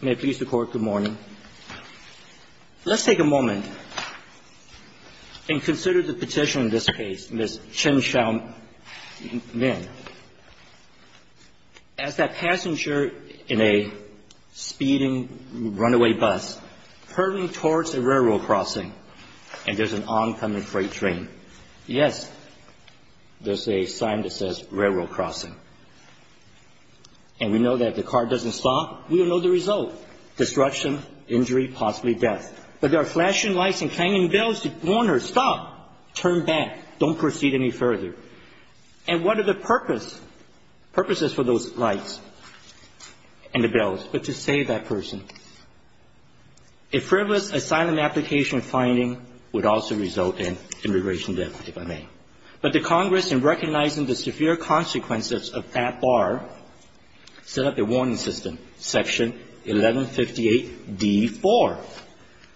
May it please the Court, good morning. Let's take a moment and consider the petition in this case, Ms. Chen Xiaomin. As that passenger in a speeding runaway bus hurling towards a railroad crossing, and there's an oncoming freight train, yes, there's a sign that says stop, we will know the result, destruction, injury, possibly death. But there are flashing lights and clanging bells to warn her, stop, turn back, don't proceed any further. And what are the purposes for those lights and the bells? But to save that person, a frivolous asylum application finding would also result in immigration death, if I may. But the Congress, in recognizing the severe consequences of that bar, set up a warning system, section 1158D4.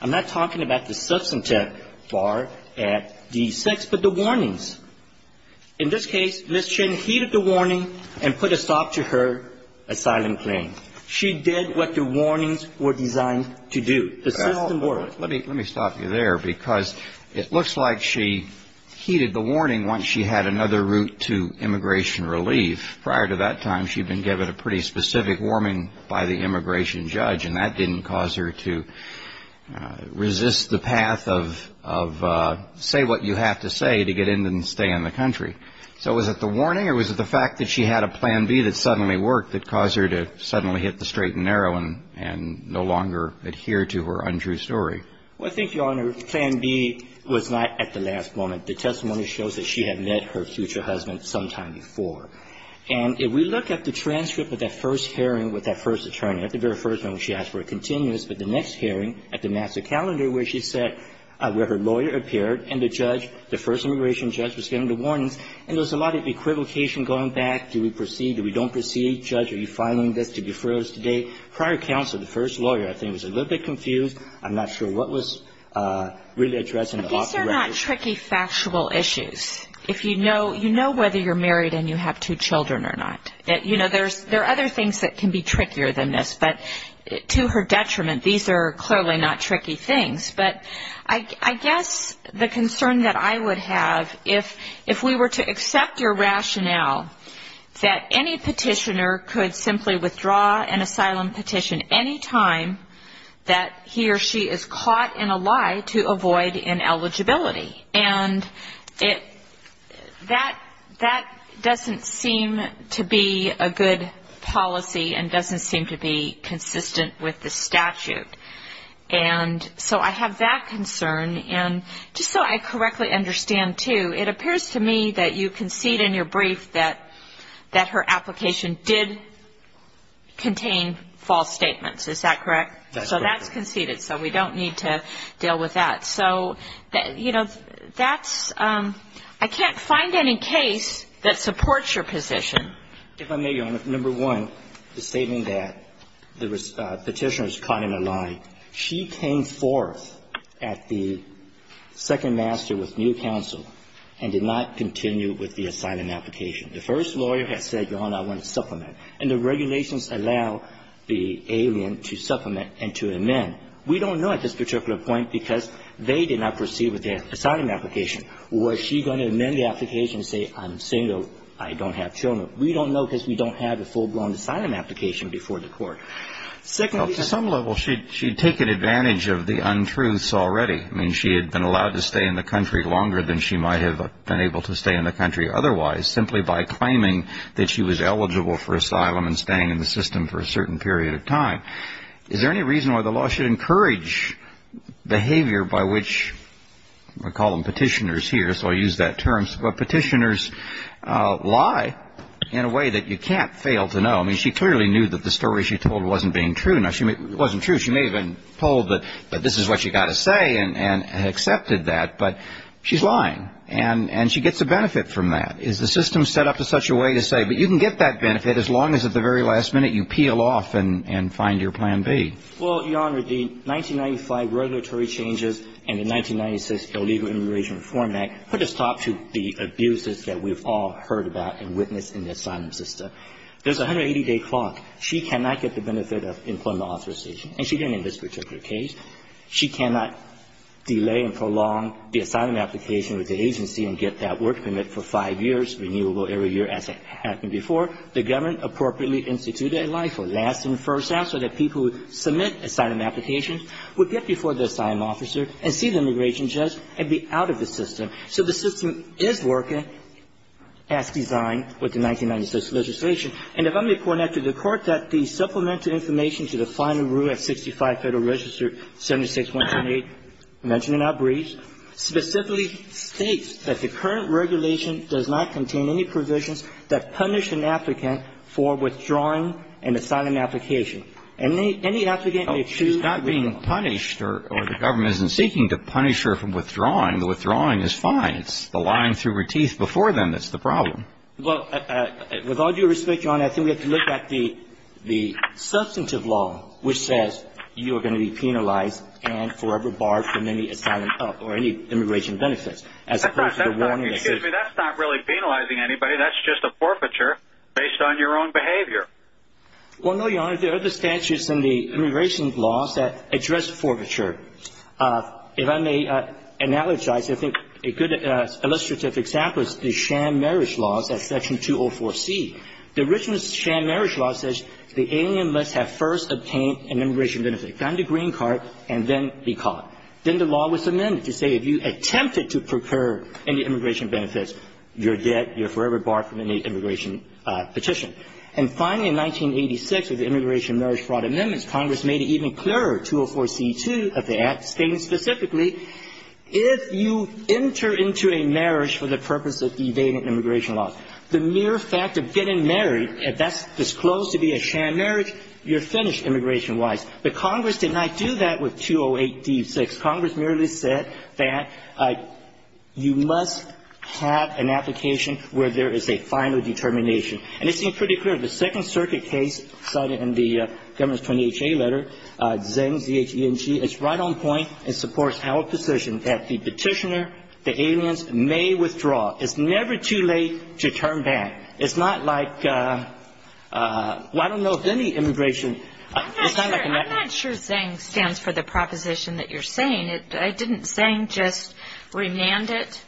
I'm not talking about the substantive bar at D6, but the warnings. In this case, Ms. Chen heeded the warning and put a stop to her asylum claim. She did what the warnings were designed to do. The system worked. Let me stop you there, because it looks like she heeded the warning once she had another route to immigration relief. Prior to that time, she had been given a pretty specific warming by the immigration judge, and that didn't cause her to resist the path of say what you have to say to get in and stay in the country. So was it the warning or was it the fact that she had a plan B that suddenly worked that caused her to suddenly hit the straight and narrow and no longer adhere to her untrue story? Well, I think, Your Honor, plan B was not at the last moment. The testimony shows that she had met her future husband sometime before. And if we look at the transcript of that first hearing with that first attorney, at the very first moment she asked for a continuous, but the next hearing at the master calendar where she said where her lawyer appeared and the judge, the first immigration judge was giving the warnings, and there was a lot of equivocation going back, do we proceed, do we don't proceed? Judge, are you filing this to be froze today? Prior counsel, the first lawyer, I think, was a little bit confused. I'm not sure what was really addressed in the offer. These are not tricky factual issues. If you know, you know whether you're married and you have two children or not. You know, there are other things that can be trickier than this. But to her detriment, these are clearly not tricky things. But I guess the concern that I would have, if we were to accept your rationale that any petitioner could simply file a petition, is that there is a possibility. And that doesn't seem to be a good policy and doesn't seem to be consistent with the statute. And so I have that concern. And just so I correctly understand, too, it appears to me that you concede in your brief that her application did contain false statements. Is that correct? That's correct. So we don't need to deal with that. So, you know, that's, I can't find any case that supports your position. If I may, Your Honor, number one, the statement that the petitioner is caught in a lie. She came forth at the second master with new counsel and did not continue with the asylum application. The first lawyer has said, Your Honor, I want to supplement. And the regulations allow the petitioner to continue. And we don't know at this particular point because they did not proceed with the asylum application. Was she going to amend the application and say, I'm single, I don't have children? We don't know because we don't have a full-blown asylum application before the court. Now, to some level, she had taken advantage of the untruths already. I mean, she had been allowed to stay in the country longer than she might have been able to stay in the country otherwise simply by claiming that she was eligible for asylum and staying in the system for a certain period of time. Is there any reason why the law should encourage behavior by which, we call them petitioners here, so I'll use that term, but petitioners lie in a way that you can't fail to know. I mean, she clearly knew that the story she told wasn't being true. Now, it wasn't true. She may have been told that this is what she got to say and accepted that, but she's lying. And she gets a benefit from that. Is the system set up in such a way to say, but you can get that benefit as long as at the very last minute you peel off and find your plan B? Well, Your Honor, the 1995 regulatory changes and the 1996 illegal immigration reform act put a stop to the abuses that we've all heard about and witnessed in the asylum system. There's a 180-day clock. She cannot get the benefit of employment authorization, and she didn't in this particular case. She cannot delay and prolong the asylum application with the agency and get that work permit for five years, renewable every year as it happened before. The government appropriately instituted a life or last and first act so that people who submit asylum applications would get before the asylum officer and see the immigration judge and be out of the system. So the system is working as designed with the 1996 legislation. And if I may point out to the Court that the supplementary information to the final rule at 65 Federal Register 76.28, mentioned in our brief, specifically states that the current regulation does not contain any provisions that punish an applicant for withdrawing an asylum application. And any applicant may choose not to be punished or the government isn't seeking to punish her for withdrawing. The withdrawing is fine. It's the lying through her teeth before them that's the problem. Well, with all due respect, Your Honor, I think we have to look at the substantive law which says you are going to be penalized and forever barred from any asylum or any immigration benefits. That's not really penalizing anybody. That's just a forfeiture based on your own behavior. Well, no, Your Honor. There are other statutes in the immigration laws that address forfeiture. If I may analogize, I think a good illustrative example is the sham marriage laws at Section 204C. The original sham marriage law says the alien must have first obtained an immigration benefit, gotten the green card, and then be caught. Then the law was amended to say if you attempted to procure any immigration benefits, you're dead, you're forever barred from any immigration petition. And finally, in 1986, with the immigration marriage fraud amendments, Congress made it even clearer, 204C.2 of the Act, stating specifically, if you enter into a marriage for the purpose of evading immigration laws, the mere fact of getting married, if that's disclosed to be a sham marriage, you're finished immigration-wise. But Congress did not do that with 208D.6. Congress merely said that you must have an application where there is a final determination. And it seemed pretty clear. The Second Circuit case cited in the Governor's 20HA letter, ZHENG, Z-H-E-N-G, it's right on point. It supports our position that the petitioner, the aliens, may withdraw. It's never too late to turn back. It's not like, well, I don't know if any immigration- I'm not sure ZHENG stands for the proposition that you're saying. Didn't ZHENG just remand it,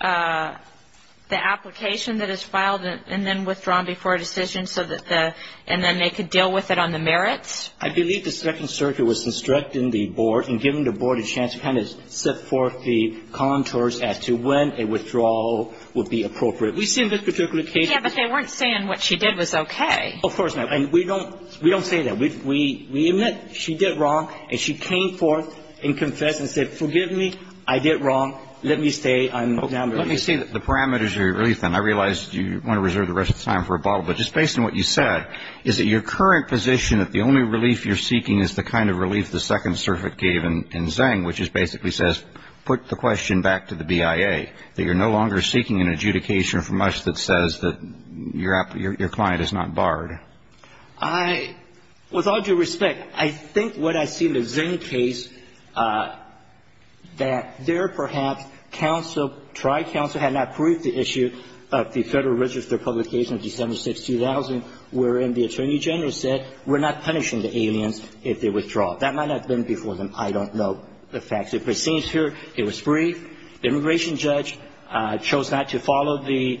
the application that is filed, and then withdrawn before a decision so that the, and then they could deal with it on the merits? I believe the Second Circuit was instructing the Board and giving the Board a chance to kind of set forth the contours as to when a withdrawal would be appropriate. We've seen this particular case- Yeah, but they weren't saying what she did was okay. Of course not. And we don't, we don't say that. We admit she did wrong and she came forth and confessed and said, forgive me, I did wrong. Let me stay. I'm now relieved. Let me say that the parameters are your relief then. I realize you want to reserve the rest of the time for a bottle, but just based on what you said, is that your current position that the only relief you're seeking is the kind of relief the Second Circuit gave in ZHENG, which is basically says, put the question back to the BIA, that you're no longer seeking an adjudication from us that says that your client is not barred. I, with all due respect, I think what I see in the ZHENG case, that there perhaps counsel, tri-counsel, had not proved the issue of the Federal Register publication of December 6, 2000, wherein the Attorney General said, we're not punishing the aliens if they withdraw. That might not have been before them. I don't know the facts. It was brief. The immigration judge chose not to follow the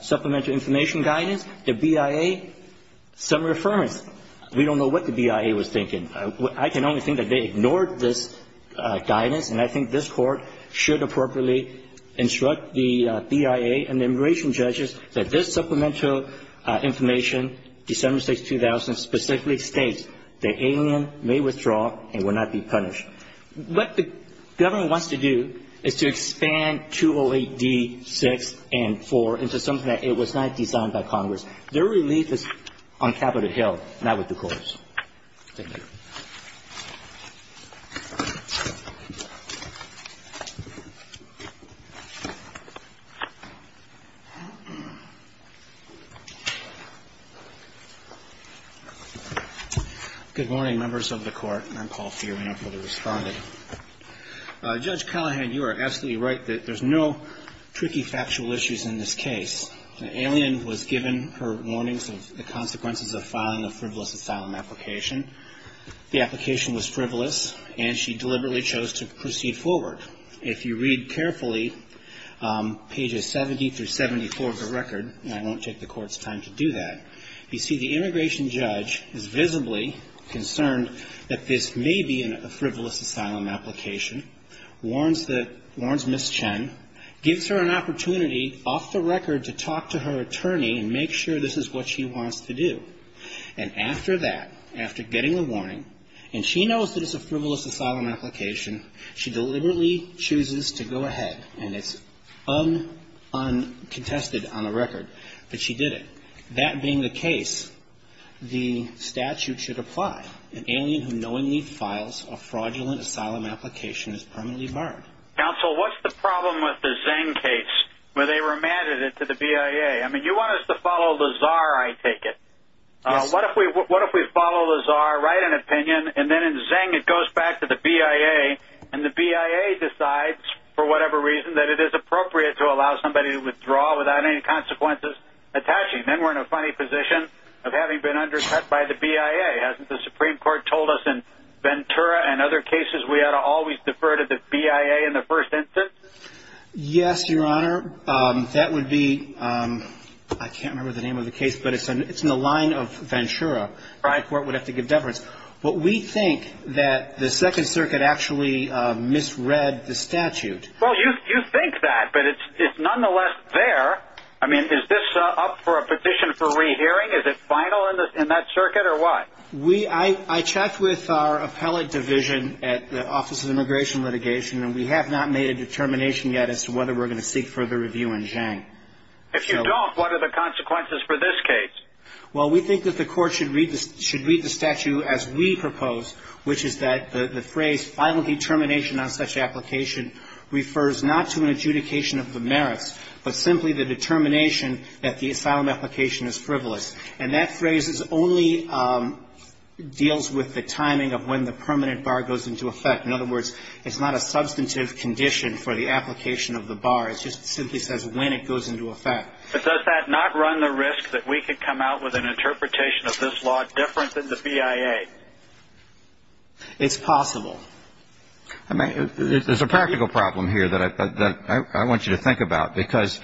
Supplemental Information Guidance. The BIA, summary affirmance. We don't know what the BIA was thinking. I can only think that they ignored this guidance, and I think this Court should appropriately instruct the BIA and the immigration judges that this Supplemental Information, December 6, 2000, specifically states the alien may withdraw and will not be punished. What the government wants to do is to expand 208D6 and 4 into something that was not designed by Congress. Their relief is on Capitol Hill, not with the courts. Thank you. Judge Callahan, you are absolutely right that there's no tricky factual issues in this case. The alien was given her warnings of the consequences of filing a frivolous asylum application. The application was frivolous, and she deliberately chose to proceed forward. If you read carefully, pages 70 through 74 of the record, and I won't take the Court's time to do that, you see the immigration judge is visibly concerned that this may be a frivolous asylum application, warns Miss Chen, gives her an opportunity off the record to talk to her attorney and make sure this is what she wants to do. And after that, after getting a warning, and she knows that it's a frivolous asylum application, she deliberately chooses to go ahead, and it's uncontested on the record, but she did it. That being the case, the statute should apply. An alien who knowingly files a fraudulent asylum application is permanently barred. Counsel, what's the problem with the Zeng case, where they remanded it to the BIA? I take it. What if we follow the czar, write an opinion, and then in Zeng it goes back to the BIA, and the BIA decides, for whatever reason, that it is appropriate to allow somebody to withdraw without any consequences attaching. Then we're in a funny position of having been undercut by the BIA. Hasn't the Supreme Court told us in Ventura and other cases we ought to always defer to the BIA in the first instance? Yes, Your Honor. That would be, I can't remember the name of the case, but it's in the line of Ventura. The Supreme Court would have to give deference. But we think that the Second Circuit actually misread the statute. Well, you think that, but it's nonetheless there. I mean, is this up for a petition for rehearing? Is it final in that circuit, or what? I checked with our appellate division at the Office of Immigration Litigation, and we have not made a determination yet as to whether we're going to seek further review in Zeng. If you don't, what are the consequences for this case? Well, we think that the Court should read the statute as we propose, which is that the phrase, final determination on such application, refers not to an adjudication of the merits, but simply the determination that the asylum application is frivolous. And that phrase only deals with the timing of when the permanent bar goes into effect. In other words, it's not a substantive condition for the application of the bar. It just simply says when it goes into effect. But does that not run the risk that we could come out with an interpretation of this law different than the BIA? It's possible. There's a practical problem here that I want you to think about, because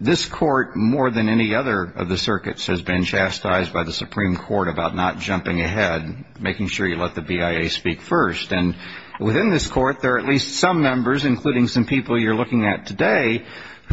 this Court, more than any other of the circuits, has been chastised by the Supreme Court about not jumping ahead, making sure you let the BIA speak first. And within this Court, there are at least some numbers, including some people you're looking at today,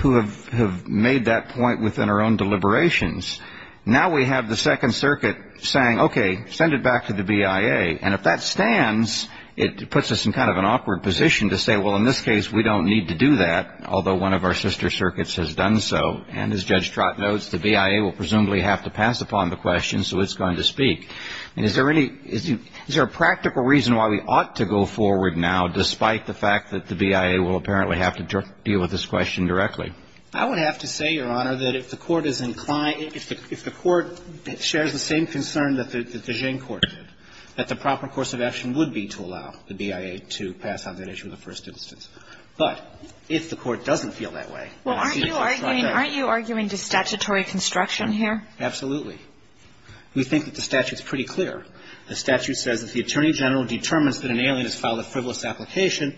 who have made that point within our own deliberations. Now we have the Second Circuit saying, okay, send it back to the BIA. And if that stands, it puts us in kind of an awkward position to say, well, in this case, we don't need to do that, although one of our sister circuits has done so. And as Judge Trott notes, the BIA will presumably have to pass upon the question, so it's going to speak. And is there any – is there a practical reason why we ought to go forward now, despite the fact that the BIA will apparently have to deal with this question directly? I would have to say, Your Honor, that if the Court is inclined – if the Court shares the same concern that the Jean Court did, that the proper course of action would be to allow the BIA to pass on that issue in the first instance. But if the Court doesn't feel that way, I don't see the question. Well, aren't you arguing – aren't you arguing to statutory construction Absolutely. We think that the statute's pretty clear. The statute says if the attorney general determines that an alien has filed a frivolous application,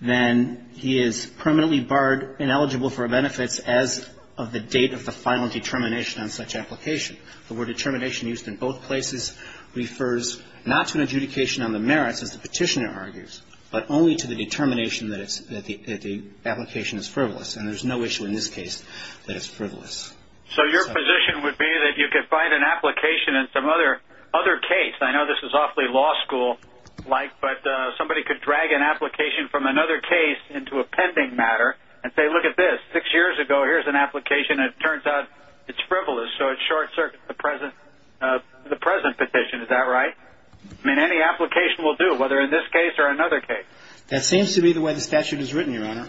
then he is permanently barred, ineligible for benefits as of the date of the final determination on such application. The word determination used in both places refers not to an adjudication on the merits, as the Petitioner argues, but only to the determination that it's – that the application is frivolous. And there's no issue in this case that it's frivolous. So your position would be that you could find an application in some other – other case. I know this is awfully law school-like, but somebody could drag an application from another case into a pending matter and say, look at this. Six years ago, here's an application. It turns out it's frivolous. So it short-circuits the present – the present petition. Is that right? I mean, any application will do, whether in this case or another case. That seems to be the way the statute is written, Your Honor.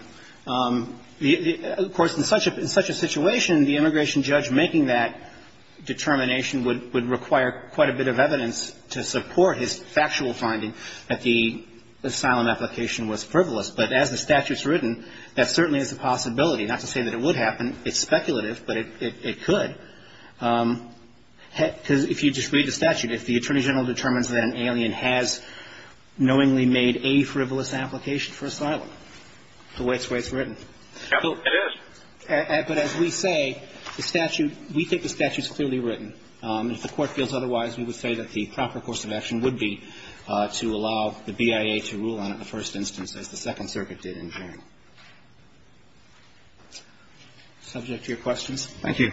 Of course, in such a situation, the immigration judge making that determination would – would require quite a bit of evidence to support his factual finding that the asylum application was frivolous. But as the statute's written, that certainly is a possibility. Not to say that it would happen. It's speculative, but it – it could. Because if you just read the statute, if the Attorney General determines that an alien has knowingly made a frivolous application for asylum, the way it's – the way it's written. Yes, it is. But as we say, the statute – we think the statute's clearly written. If the Court feels otherwise, we would say that the proper course of action would be to allow the BIA to rule on it in the first instance, as the Second Circuit did in June. Subject to your questions. Thank you.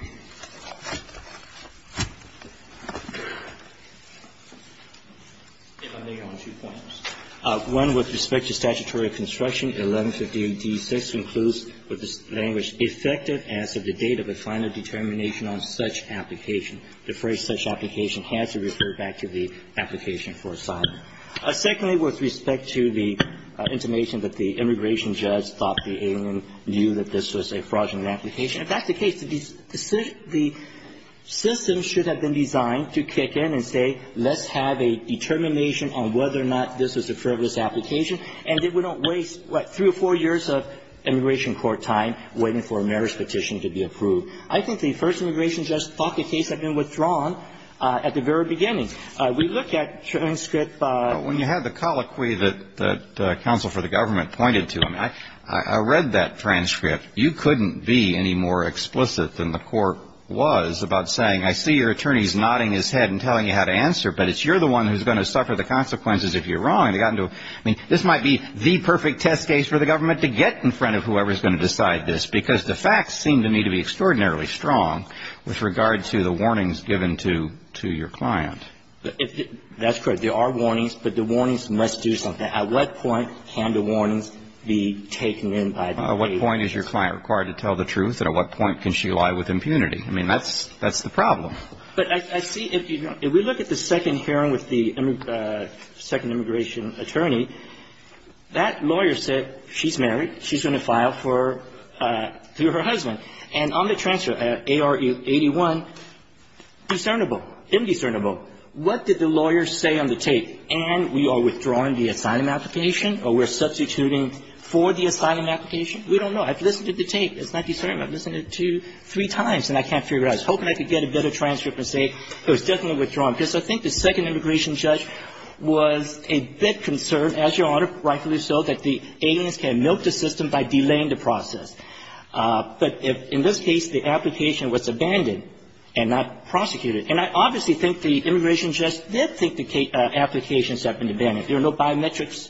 One, with respect to statutory construction, 1158d6 includes with this language effective as of the date of the final determination on such application. The phrase such application has to refer back to the application for asylum. Secondly, with respect to the intimation that the immigration judge thought the alien knew that this was a fraudulent application. If that's the case, the system should have been designed to kick in and say, let's have a determination on whether or not this is a frivolous application, and it would not waste, what, three or four years of immigration court time waiting for a marriage petition to be approved. I think the first immigration judge thought the case had been withdrawn at the very beginning. We look at transcripts. When you had the colloquy that counsel for the government pointed to, I mean, I read that transcript. You couldn't be any more explicit than the court was about saying, I see your attorney is nodding his head and telling you how to answer, but it's you're the one who's going to suffer the consequences if you're wrong. I mean, this might be the perfect test case for the government to get in front of whoever is going to decide this, because the facts seem to me to be extraordinarily strong with regard to the warnings given to your client. That's correct. There are warnings, but the warnings must do something. At what point can the warnings be taken in by the agency? At what point is your client required to tell the truth, and at what point can she lie with impunity? I mean, that's the problem. But I see if you look at the second hearing with the second immigration attorney, that lawyer said she's married, she's going to file for her husband. And on the transcript, AR-81, discernible, indiscernible. What did the lawyer say on the tape? And we are withdrawing the asylum application or we're substituting for the asylum application? We don't know. I've listened to the tape. It's not discernible. I've listened to it three times, and I can't figure it out. I was hoping I could get a better transcript and say it was definitely withdrawn. Because I think the second immigration judge was a bit concerned, as Your Honor, rightfully so, that the aliens can milk the system by delaying the process. But in this case, the application was abandoned and not prosecuted. And I obviously think the immigration judge did think the applications have been abandoned. There are no biometrics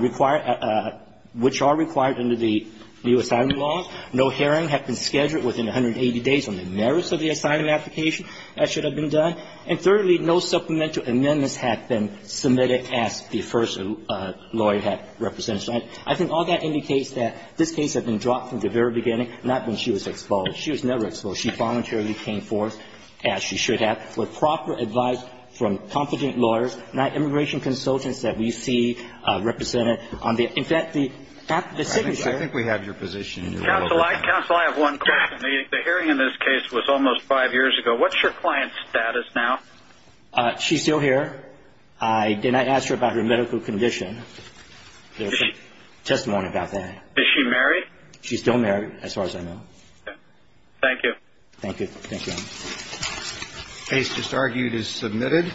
required, which are required under the new asylum laws. No hearings have been scheduled within 180 days on the merits of the asylum application. That should have been done. And thirdly, no supplemental amendments have been submitted as the first lawyer had represented. I think all that indicates that this case had been dropped from the very beginning, not when she was exposed. She was never exposed. She voluntarily came forth, as she should have, with proper advice from competent lawyers, not immigration consultants that we see represented. In fact, the signature. I think we have your position. Counsel, I have one question. The hearing in this case was almost five years ago. What's your client's status now? She's still here. I did not ask her about her medical condition. There's testimony about that. Is she married? She's still married, as far as I know. Thank you. Thank you. Thank you. The case just argued is submitted.